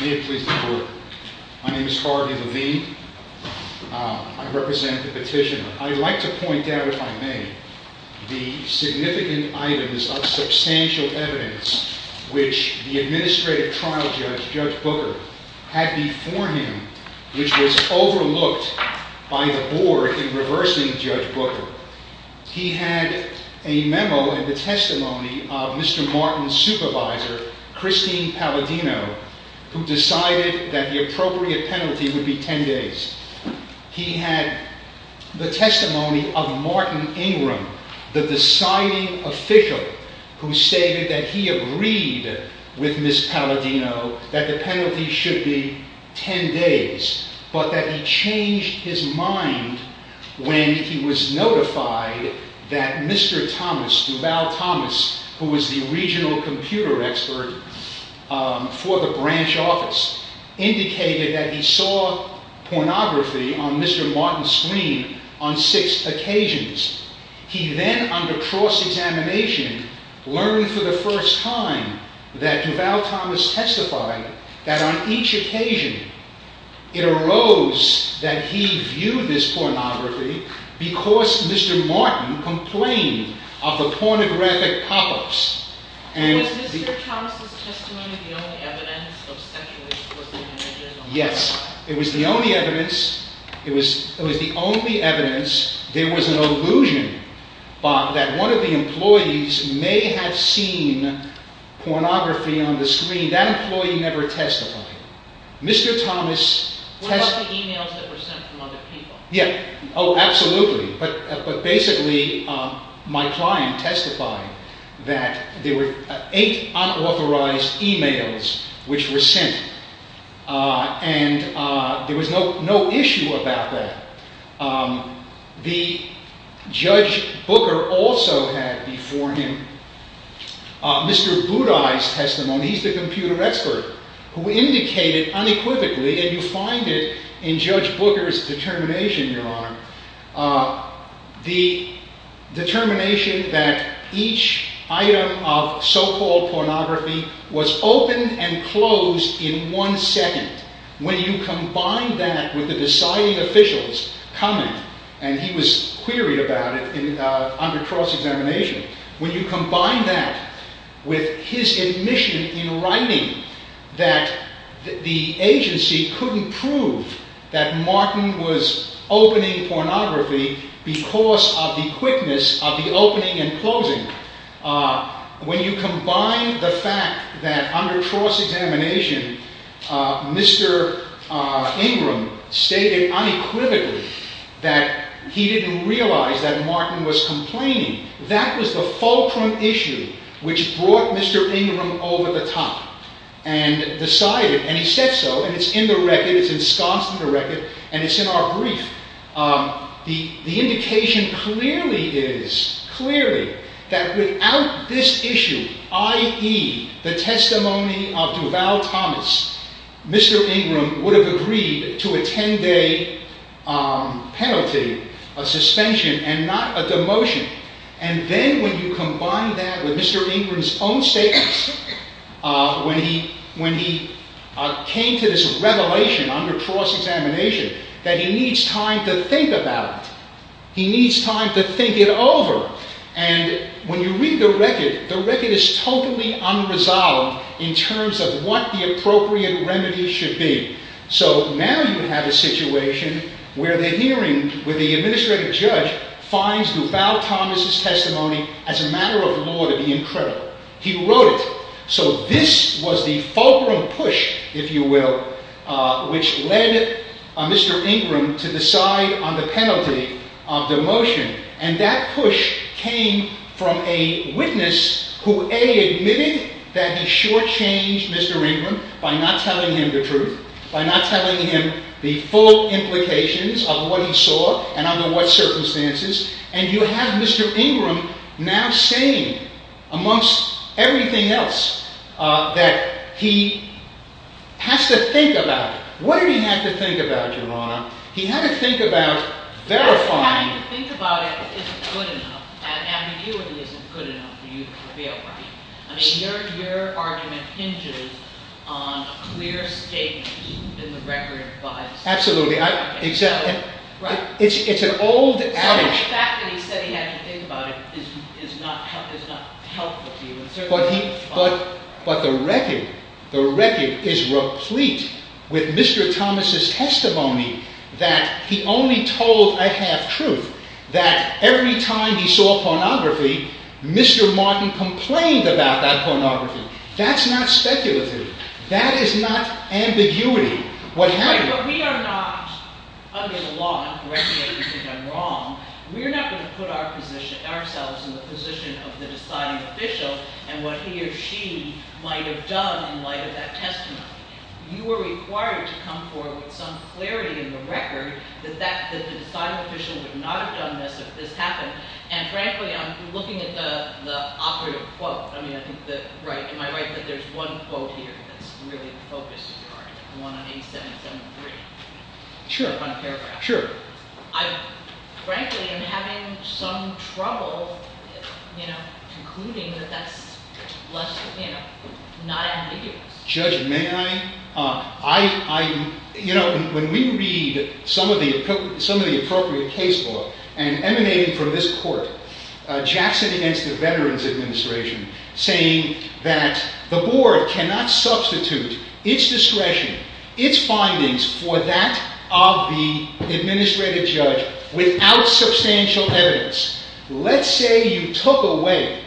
May it please the court, my name is Harvey Levine, I represent the petitioner. I'd like to point out, if I may, the significant items of substantial evidence which the administrative trial judge, Judge Booker, had before him, which was overlooked by the board in reversing Judge Booker. He had a memo in the testimony of Mr. Martin's supervisor, Christine Palladino, who decided that the appropriate penalty would be 10 days. He had the testimony of Martin Ingram, the deciding official, who stated that he agreed with Ms. Palladino that the penalty should be 10 days, but that he changed his mind when he was notified that Mr. Thomas, Duval Thomas, who was the regional computer expert for the branch office, indicated that he saw pornography on Mr. Martin's screen on six occasions. He then, under cross-examination, learned for the first time that Duval Thomas testified that on each occasion it arose that he viewed this pornography because Mr. Martin complained of the pornographic pop-ups. Was Mr. Thomas' testimony the only evidence of sexual exploitation? Yes, it was the only evidence. It was the only evidence. There was an illusion that one of the employees may have seen pornography on the screen. That employee never testified. What about the emails that were sent from other people? Oh, absolutely. But basically, my client testified that there were eight unauthorized emails which were sent, and there was no issue about that. The Judge Booker also had before him Mr. Budai's testimony. He's the computer expert who indicated unequivocally, and you find it in Judge Booker's determination, Your Honor, the determination that each item of so-called pornography was opened and closed in one second. When you combine that with the deciding officials coming, and he was queried about it under cross-examination, when you combine that with his admission in writing that the agency couldn't prove that Martin was opening pornography because of the quickness of the opening and closing, when you combine the fact that under cross-examination, Mr. Ingram stated unequivocally that he didn't realize that Martin was complaining, that was the fulcrum issue which brought Mr. Ingram over the top and decided, and he said so, and it's in the record, it's ensconced in the record, and it's in our brief. The indication clearly is, clearly, that without this issue, i.e., the testimony of Duval Thomas, Mr. Ingram would have agreed to a ten-day penalty, a suspension, and not a demotion. And then when you combine that with Mr. Ingram's own statements, when he came to this revelation under cross-examination, that he needs time to think about it, he needs time to think it over, and when you read the record, the record is totally unresolved in terms of what the appropriate remedy should be. So now you have a situation where the hearing, where the administrative judge finds Duval Thomas' testimony as a matter of law to be incredible. He wrote it. So this was the fulcrum push, if you will, which led Mr. Ingram to decide on the penalty of demotion. And that push came from a witness who, A, admitted that he shortchanged Mr. Ingram by not telling him the truth, by not telling him the full implications of what he saw and under what circumstances, and you have Mr. Ingram now saying, amongst everything else, that he has to think about it. What did he have to think about, Your Honor? He had to think about verifying— Having to think about it isn't good enough, and I mean you it isn't good enough for you to feel right. I mean, your argument hinges on a clear statement in the record by— Absolutely. It's an old— The fact that he said he had to think about it is not helpful to you. But the record is replete with Mr. Thomas' testimony that he only told a half-truth, that every time he saw pornography, Mr. Martin complained about that pornography. That's not speculative. That is not ambiguity. What happened? But we are not, under the law, and I'm correcting you if you think I'm wrong, we're not going to put ourselves in the position of the deciding official and what he or she might have done in light of that testimony. You are required to come forward with some clarity in the record that the deciding official would not have done this if this happened. And frankly, I'm looking at the operative quote. I mean, am I right that there's one quote here that's really the focus of your argument, the one on 8773? Sure. On a paragraph. Sure. Frankly, I'm having some trouble, you know, concluding that that's less, you know, not ambiguous. Judge, may I? You know, when we read some of the appropriate case law emanating from this court, Jackson against the Veterans Administration, saying that the board cannot substitute its discretion, its findings, for that of the administrative judge without substantial evidence. Let's say you took away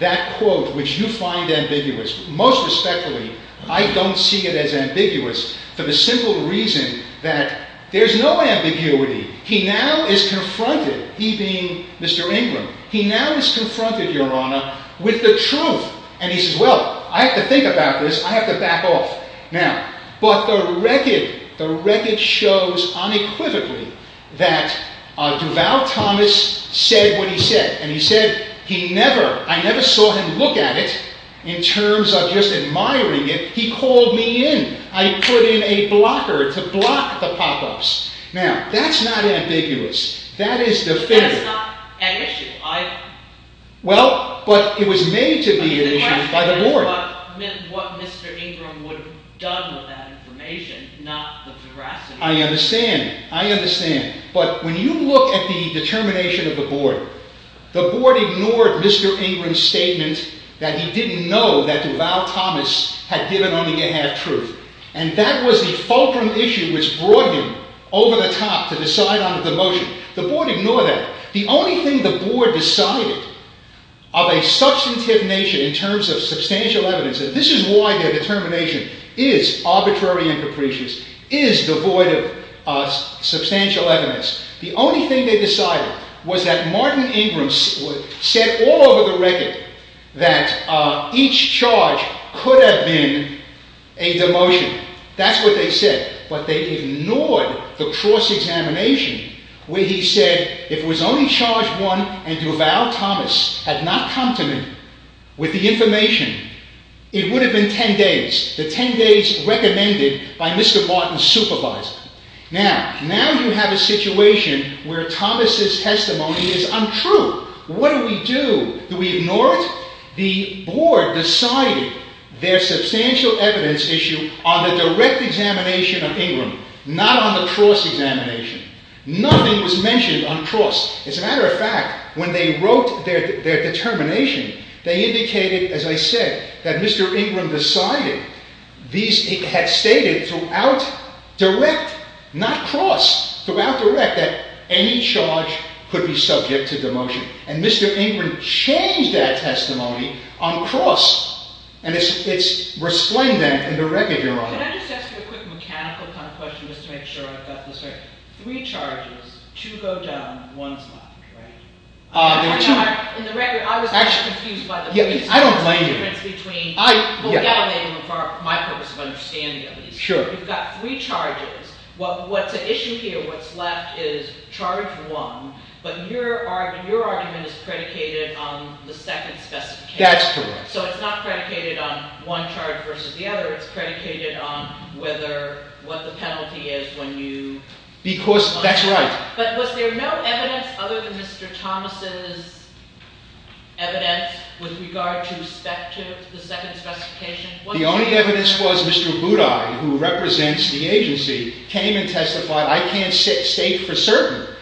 that quote which you find ambiguous. Most respectfully, I don't see it as ambiguous for the simple reason that there's no ambiguity. He now is confronted, he being Mr. Ingram, he now is confronted, Your Honor, with the truth. And he says, well, I have to think about this. I have to back off. Now, but the record, the record shows unequivocally that Duval Thomas said what he said. And he said he never, I never saw him look at it in terms of just admiring it. He called me in. I put in a blocker to block the pop-ups. Now, that's not ambiguous. That is definitive. But it's not an issue either. Well, but it was made to be an issue by the board. But the question is what Mr. Ingram would have done with that information, not the veracity. I understand. I understand. But when you look at the determination of the board, the board ignored Mr. Ingram's statement that he didn't know that Duval Thomas had given only a half-truth. And that was the fulcrum issue which brought him over the top to decide on a demotion. The board ignored that. The only thing the board decided of a substantive nature in terms of substantial evidence, and this is why their determination is arbitrary and capricious, is devoid of substantial evidence. The only thing they decided was that Martin Ingram said all over the record that each charge could have been a demotion. That's what they said. But they ignored the cross-examination where he said if it was only charge one and Duval Thomas had not come to me with the information, it would have been ten days. The ten days recommended by Mr. Martin's supervisor. Now, now you have a situation where Thomas's testimony is untrue. What do we do? Do we ignore it? The board decided their substantial evidence issue on the direct examination of Ingram, not on the cross-examination. Nothing was mentioned on cross. As a matter of fact, when they wrote their determination, they indicated, as I said, that Mr. Ingram decided these had stated throughout direct, not cross, throughout direct, that any charge could be subject to demotion. And Mr. Ingram changed that testimony on cross, and it's resplendent in the record you're on. Can I just ask you a quick mechanical kind of question, just to make sure I've got this right? Three charges, two go down, one's left, right? I don't blame you. Well, yeah, I blame you, for my purpose of understanding, at least. You've got three charges. What's at issue here, what's left, is charge one, but your argument is predicated on the second specification. That's correct. So it's not predicated on one charge versus the other. It's predicated on whether, what the penalty is when you… Because, that's right. But was there no evidence other than Mr. Thomas' evidence with regard to the second specification? The only evidence was Mr. Budai, who represents the agency, came and testified. I can't state for certain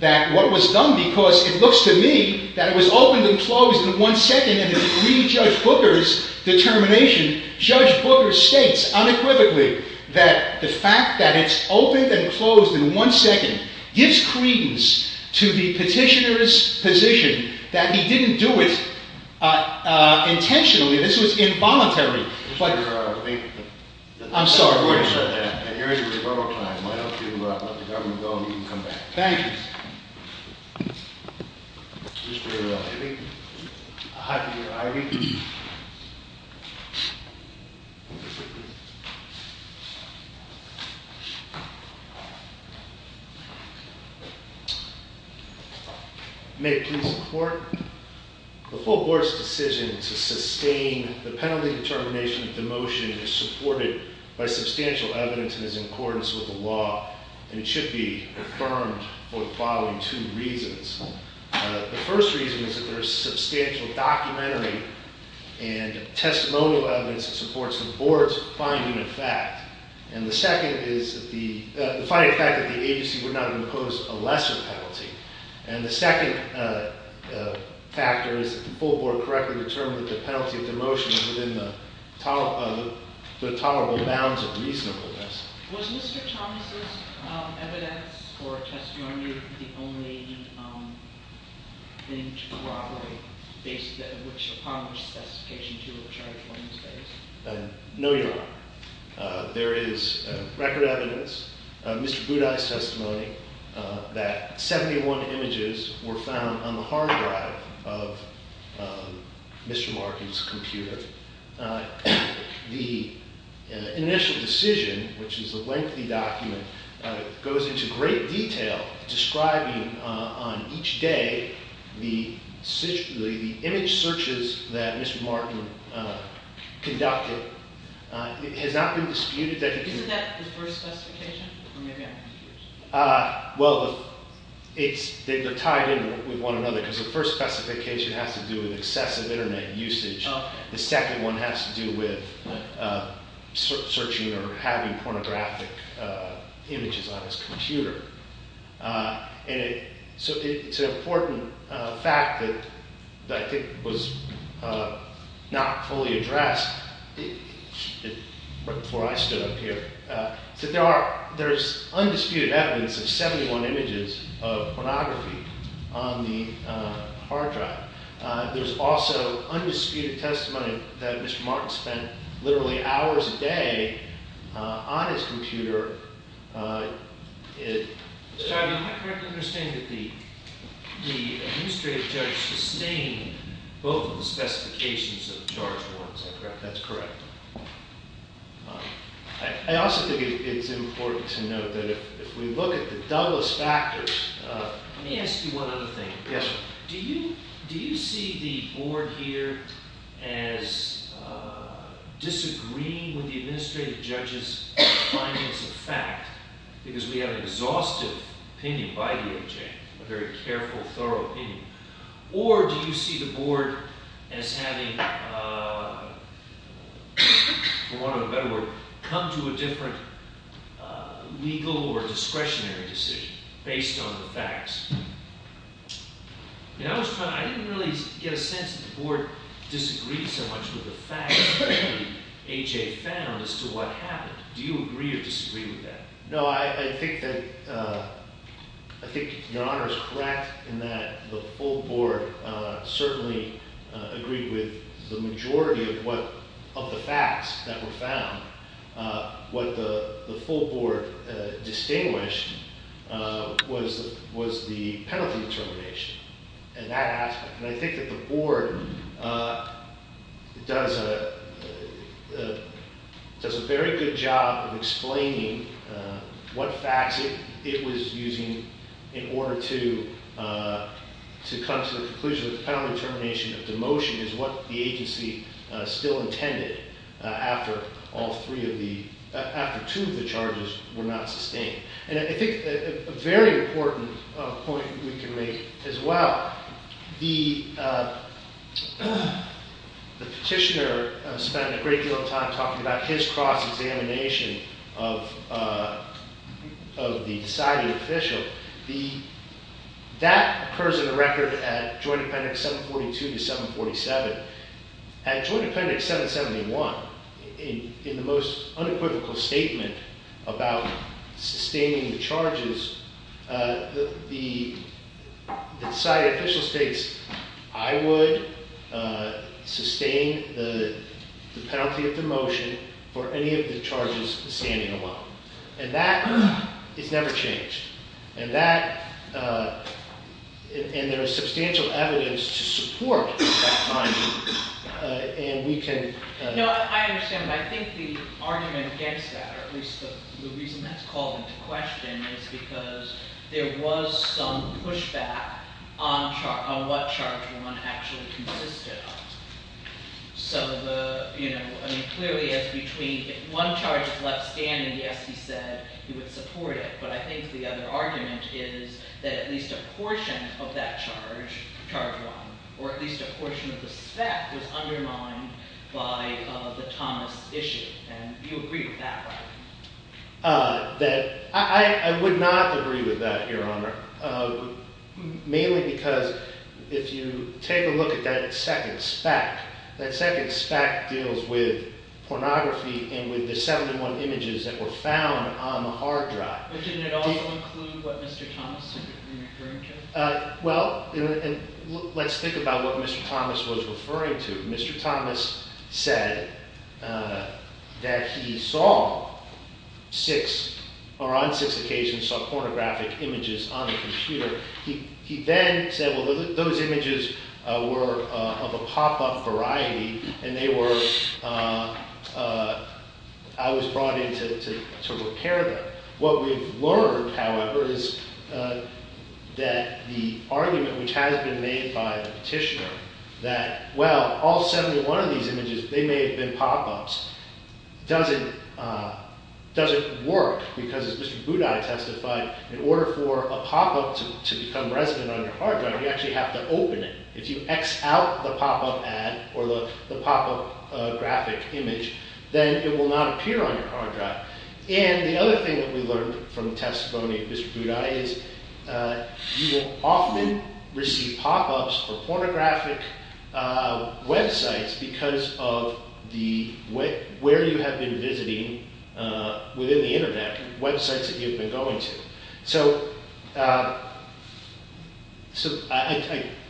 that what was done, because it looks to me that it was opened and closed in one second, and it's really Judge Booker's determination. Judge Booker states unequivocally that the fact that it's opened and closed in one second gives credence to the petitioner's position that he didn't do it intentionally. This was involuntary. I'm sorry, we're going to cut that, and here's your rebuttal time. Why don't you let the government go, and you can come back. Thank you. Mr. Hibby? May it please the Court? The full Board's decision to sustain the penalty determination of demotion is supported by substantial evidence and is in accordance with the law, and it should be affirmed for the following two reasons. The first reason is that there is substantial documentary and testimonial evidence that supports the Board's finding of fact. And the second is the finding of fact that the agency would not impose a lesser penalty. And the second factor is that the full Board correctly determined that the penalty of demotion is within the tolerable bounds of reasonableness. Was Mr. Thomas' evidence or testimony the only thing to corroborate based upon which the specification 2 of charge 1 is based? No, Your Honor. There is record evidence, Mr. Boudin's testimony, that 71 images were found on the hard drive of Mr. Markin's computer. The initial decision, which is a lengthy document, goes into great detail describing on each day the image searches that Mr. Markin conducted. It has not been disputed that he did. Isn't that the first specification? Or maybe I'm confused. Well, they're tied in with one another because the first specification has to do with excessive Internet usage. The second one has to do with searching or having pornographic images on his computer. So it's an important fact that I think was not fully addressed before I stood up here. There's undisputed evidence of 71 images of pornography on the hard drive. There's also undisputed testimony that Mr. Markin spent literally hours a day on his computer. I correctly understand that the administrative judge sustained both of the specifications of charge 1, is that correct? That's correct. I also think it's important to note that if we look at the doublest factors... Let me ask you one other thing. Do you see the board here as disagreeing with the administrative judge's findings of fact? Because we have an exhaustive opinion by DOJ, a very careful, thorough opinion. Or do you see the board as having, for want of a better word, come to a different legal or discretionary decision based on the facts? I didn't really get a sense that the board disagreed so much with the facts that A.J. found as to what happened. Do you agree or disagree with that? No, I think that your Honor is correct in that the full board certainly agreed with the majority of the facts that were found. What the full board distinguished was the penalty determination in that aspect. I think that the board does a very good job of explaining what facts it was using in order to come to the conclusion that the penalty determination of demotion is what the agency still intended after two of the charges were not sustained. And I think a very important point we can make as well, the petitioner spent a great deal of time talking about his cross-examination of the decided official. That occurs in the record at Joint Appendix 742 to 747. At Joint Appendix 771, in the most unequivocal statement about sustaining the charges, the decided official states, I would sustain the penalty of demotion for any of the charges standing alone. And that has never changed. And there is substantial evidence to support that finding. No, I understand. But I think the argument against that, or at least the reason that's called into question, is because there was some pushback on what Charge 1 actually consisted of. So clearly, if one charge is left standing, yes, he said he would support it. But I think the other argument is that at least a portion of that charge, Charge 1, or at least a portion of the spec was undermined by the Thomas issue. And you agree with that, right? I would not agree with that, Your Honor. Mainly because if you take a look at that second spec, that second spec deals with pornography and with the 71 images that were found on the hard drive. But didn't it also include what Mr. Thomas was referring to? Well, let's think about what Mr. Thomas was referring to. Mr. Thomas said that he saw six, or on six occasions, saw pornographic images on the computer. He then said, well, those images were of a pop-up variety, and they were, I was brought in to repair them. What we've learned, however, is that the argument which has been made by the petitioner, that, well, all 71 of these images, they may have been pop-ups, doesn't work. Because as Mr. Budai testified, in order for a pop-up to become resident on your hard drive, you actually have to open it. If you X out the pop-up ad, or the pop-up graphic image, then it will not appear on your hard drive. And the other thing that we learned from the testimony of Mr. Budai is, you will often receive pop-ups or pornographic websites because of where you have been visiting within the internet, websites that you've been going to. So, I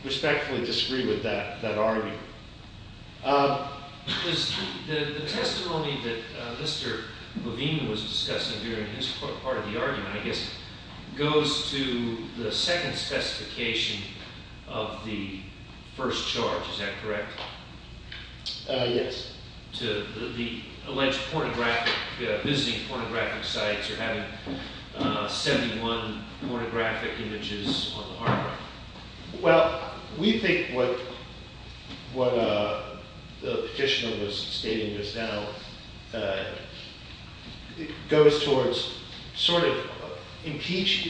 respectfully disagree with that argument. The testimony that Mr. Levine was discussing during his part of the argument, I guess, goes to the second specification of the first charge, is that correct? Yes. To the alleged visiting pornographic sites or having 71 pornographic images on the hard drive. Well, we think what the petitioner was stating just now goes towards sort of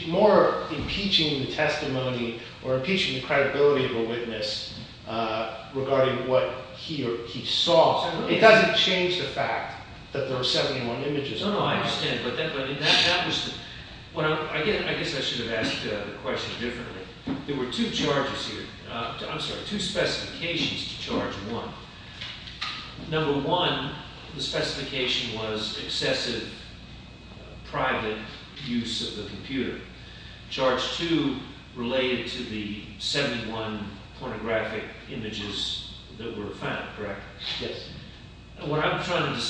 more impeaching the testimony or impeaching the credibility of a witness regarding what he saw. It doesn't change the fact that there are 71 images on the hard drive. I guess I should have asked the question differently. There were two charges here, I'm sorry, two specifications to charge one. Number one, the specification was excessive private use of the computer. Charge two related to the 71 pornographic images that were found, correct? Yes. What I'm trying to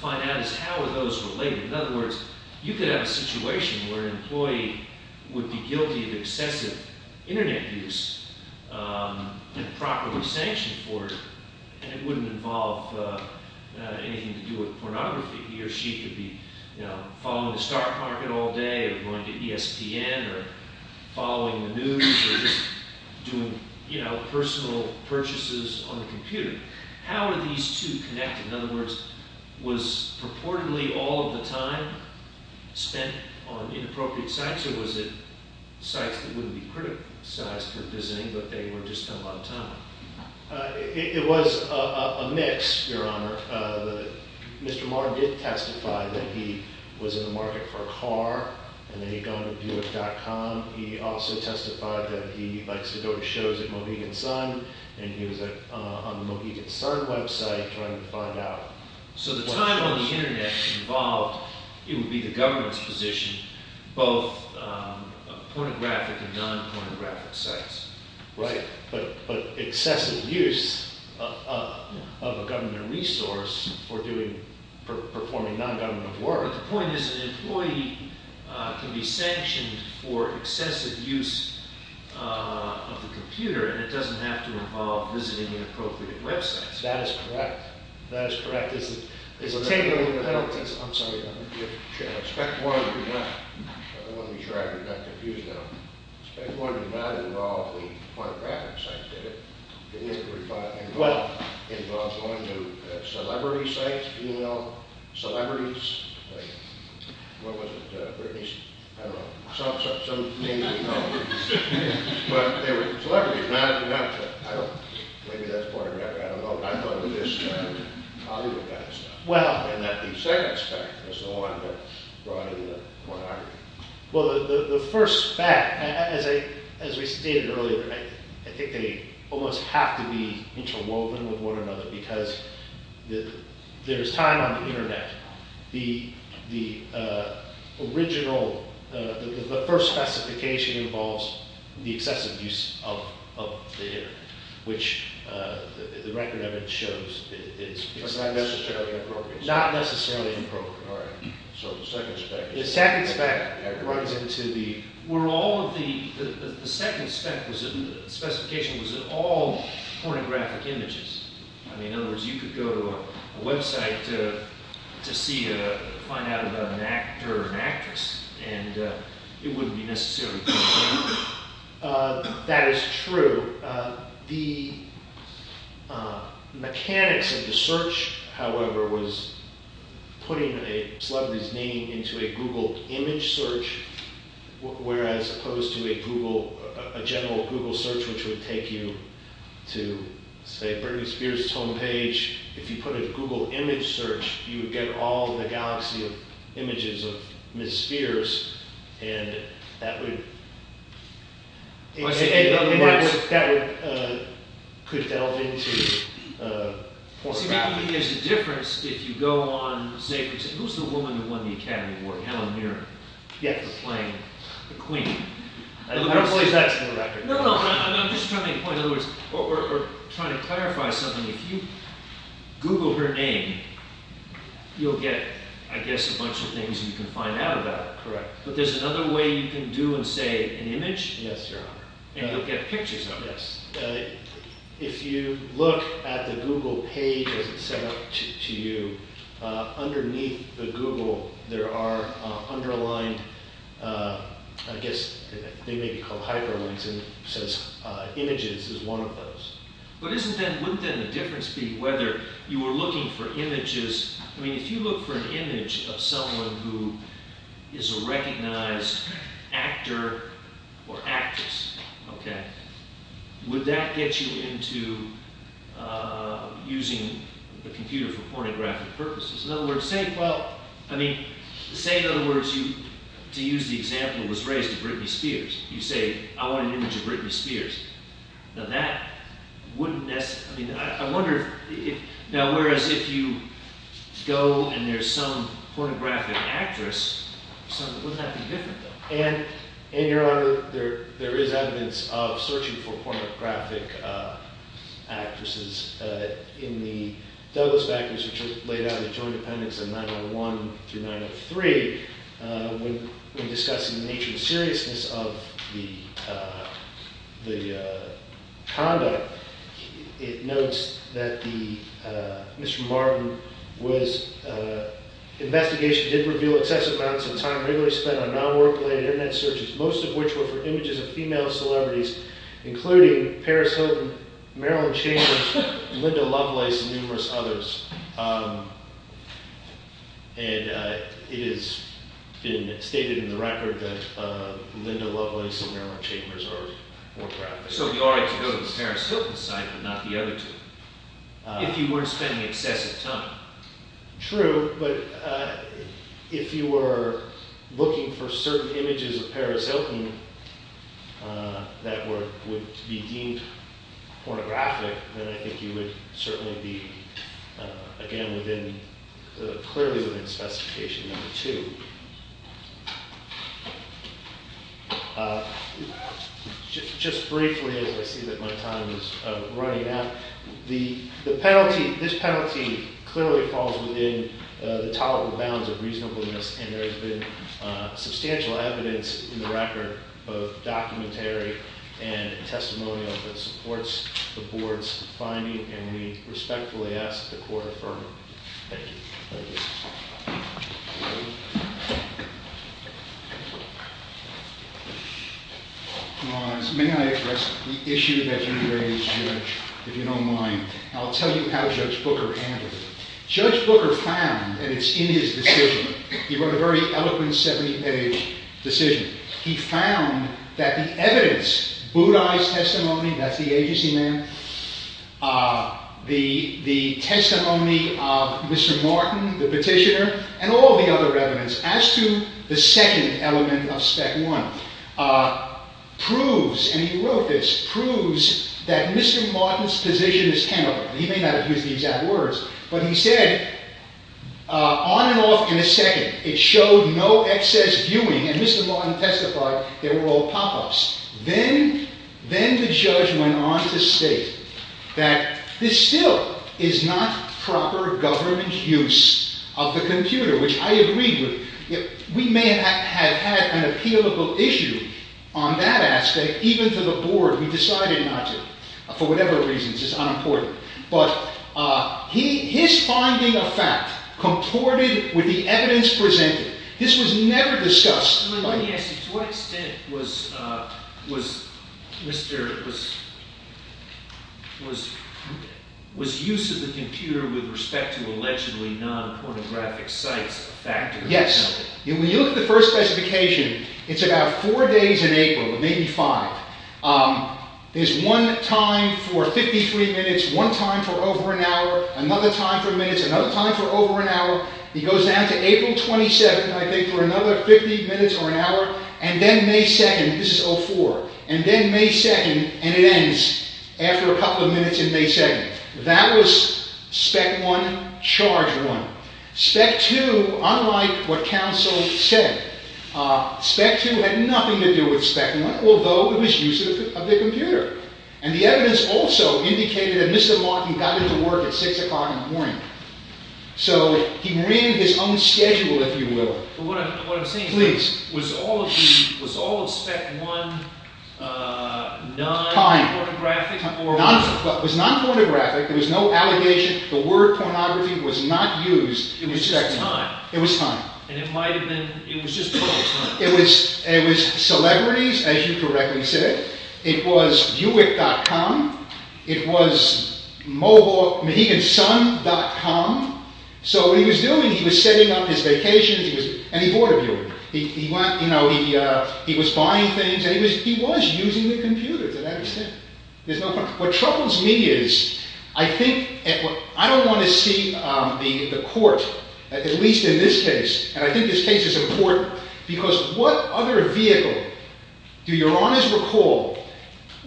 find out is how are those related? In other words, you could have a situation where an employee would be guilty of excessive internet use and properly sanctioned for it and it wouldn't involve anything to do with pornography. He or she could be following the stock market all day or going to ESPN or following the news or just doing personal purchases on the computer. How are these two connected? In other words, was purportedly all of the time spent on inappropriate sites or was it sites that wouldn't be criticized for visiting but they were just a lot of time? It was a mix, Your Honor. Mr. Marr did testify that he was in the market for a car and that he'd gone to Buick.com. He also testified that he likes to go to shows at Mohegan Sun and he was on the Mohegan Sun website trying to find out. So the time on the internet involved, it would be the government's position, both pornographic and non-pornographic sites. Right. But excessive use of a government resource for performing non-government work. But the point is an employee can be sanctioned for excessive use of the computer and it doesn't have to involve visiting inappropriate websites. That is correct. That is correct. I'm sorry, Your Honor. I want to be sure I'm not confused now. Spec 1 did not involve the pornographic sites, did it? It involved going to celebrity sites, you know? Celebrities? What was it, Britney? I don't know. Some names we know. But they were celebrities. Maybe that's pornographic. I don't know. I thought it was Hollywood kind of stuff. And that the second spec was the one that brought in the pornography. Well, the first spec, as we stated earlier, I think they almost have to be interwoven with one another because there's time on the internet. The original, the first specification involves the excessive use of the internet, which the record of it shows. It's not necessarily inappropriate. Not necessarily inappropriate. All right. So the second spec. The second spec runs into the... The second spec, the specification was that all pornographic images. I mean, in other words, you could go to a website to find out about an actor or an actress and it wouldn't be necessarily pornographic. That is true. The mechanics of the search, however, was putting a celebrity's name into a Google image search, whereas opposed to a general Google search, which would take you to, say, Britney Spears' home page. If you put a Google image search, you would get all the galaxy of images of Ms. Spears. And that would... In other words... That could delve into pornography. See, maybe there's a difference if you go on... Who's the woman who won the Academy Award? Helen Mirren. Yes. The queen. I don't believe that's in the record. No, no. I'm just trying to make a point. In other words, we're trying to clarify something. If you Google her name, you'll get, I guess, a bunch of things you can find out about. Correct. But there's another way you can do and say an image. Yes, Your Honor. And you'll get pictures of it. Yes. If you look at the Google page as it's set up to you, underneath the Google, there are underlined... I guess they may be called hyperlinks, and it says images is one of those. But isn't that... Wouldn't that make a difference, whether you were looking for images... I mean, if you look for an image of someone who is a recognized actor or actress, okay? Would that get you into using the computer for pornographic purposes? In other words, say... Well, I mean, say, in other words, to use the example that was raised of Britney Spears. You say, I want an image of Britney Spears. Now, that wouldn't necessarily... I mean, I wonder if... Now, whereas if you go and there's some pornographic actress, wouldn't that be different, though? And, Your Honor, there is evidence of searching for pornographic actresses. In the Douglas Backers, which laid out the joint appendix of 901 through 903, when discussing the nature and seriousness of the conduct, it notes that the... Mr. Marvin was... ...regularly spent on non-work-related Internet searches, most of which were for images of female celebrities, including Paris Hilton, Marilyn Chambers, Linda Lovelace, and numerous others. And it has been stated in the record that Linda Lovelace and Marilyn Chambers are... So it would be all right to go to the Paris Hilton site, but not the other two, if you weren't spending excessive time. True, but if you were looking for certain images of Paris Hilton that would be deemed pornographic, then I think you would certainly be, again, clearly within specification number two. Just briefly, as I see that my time is running out, this penalty clearly falls within the tolerable bounds of reasonableness, and there has been substantial evidence in the record, both documentary and testimonial, that supports the Board's finding, and we respectfully ask that the Court affirm it. Thank you. Thank you. May I address the issue that you raised, Judge, if you don't mind? I'll tell you how Judge Booker handled it. Judge Booker found, and it's in his decision, he wrote a very eloquent 70-page decision, he found that the evidence, Budai's testimony, that's the agency man, the testimony of Mr. Martin, the petitioner, and all the other evidence as to the second element of spec one, proves, and he wrote this, proves that Mr. Martin's position is tenable. He may not have used the exact words, but he said, on and off in a second, it showed no excess viewing, and Mr. Martin testified there were all pop-ups. Then the judge went on to state that this still is not proper government use of the computer, which I agree with. We may have had an appealable issue on that aspect, even to the Board. We decided not to, for whatever reasons. It's unimportant. But his finding of fact comported with the evidence presented. This was never discussed. To what extent was use of the computer with respect to allegedly non-pornographic sites a factor? Yes. When you look at the first specification, it's about four days in April, maybe five. There's one time for 53 minutes, one time for over an hour, another time for minutes, another time for over an hour. He goes down to April 27th, I think, for another 50 minutes or an hour. And then May 2nd, this is 04, and then May 2nd, and it ends after a couple of minutes in May 2nd. That was spec one, charge one. Spec two, unlike what counsel said, spec two had nothing to do with spec one, although it was use of the computer. And the evidence also indicated that Mr. Martin got into work at 6 o'clock in the morning. So he ran his own schedule, if you will. What I'm saying is, was all of spec one non-pornographic? Time. It was non-pornographic. There was no allegation. The word pornography was not used in spec one. It was just time. It was time. And it was just published, right? It was celebrities, as you correctly said. It was uic.com. It was mobile, mahegansun.com. So what he was doing, he was setting up his vacations. And he bought a view. He was buying things. And he was using the computer, to that extent. There's no question. What troubles me is, I think, and I don't want to see the court, at least in this case, and I think this case is important, because what other vehicle do your honors recall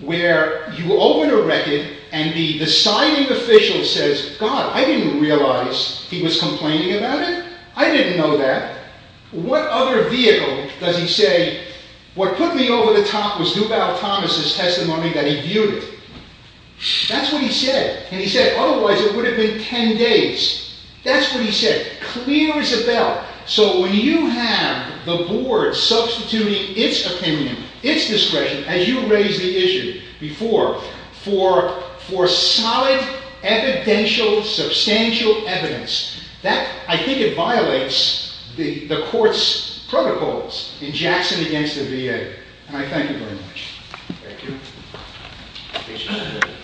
where you open a record and the signing official says, God, I didn't realize he was complaining about it. I didn't know that. What other vehicle does he say, what put me over the top was Duval Thomas' testimony that he viewed it. That's what he said. And he said, otherwise it would have been ten days. That's what he said. Clear as a bell. So when you have the board substituting its opinion, its discretion, as you raised the issue before, for solid, evidential, substantial evidence, I think it violates the court's protocols in Jackson against the VA. And I thank you very much. Thank you.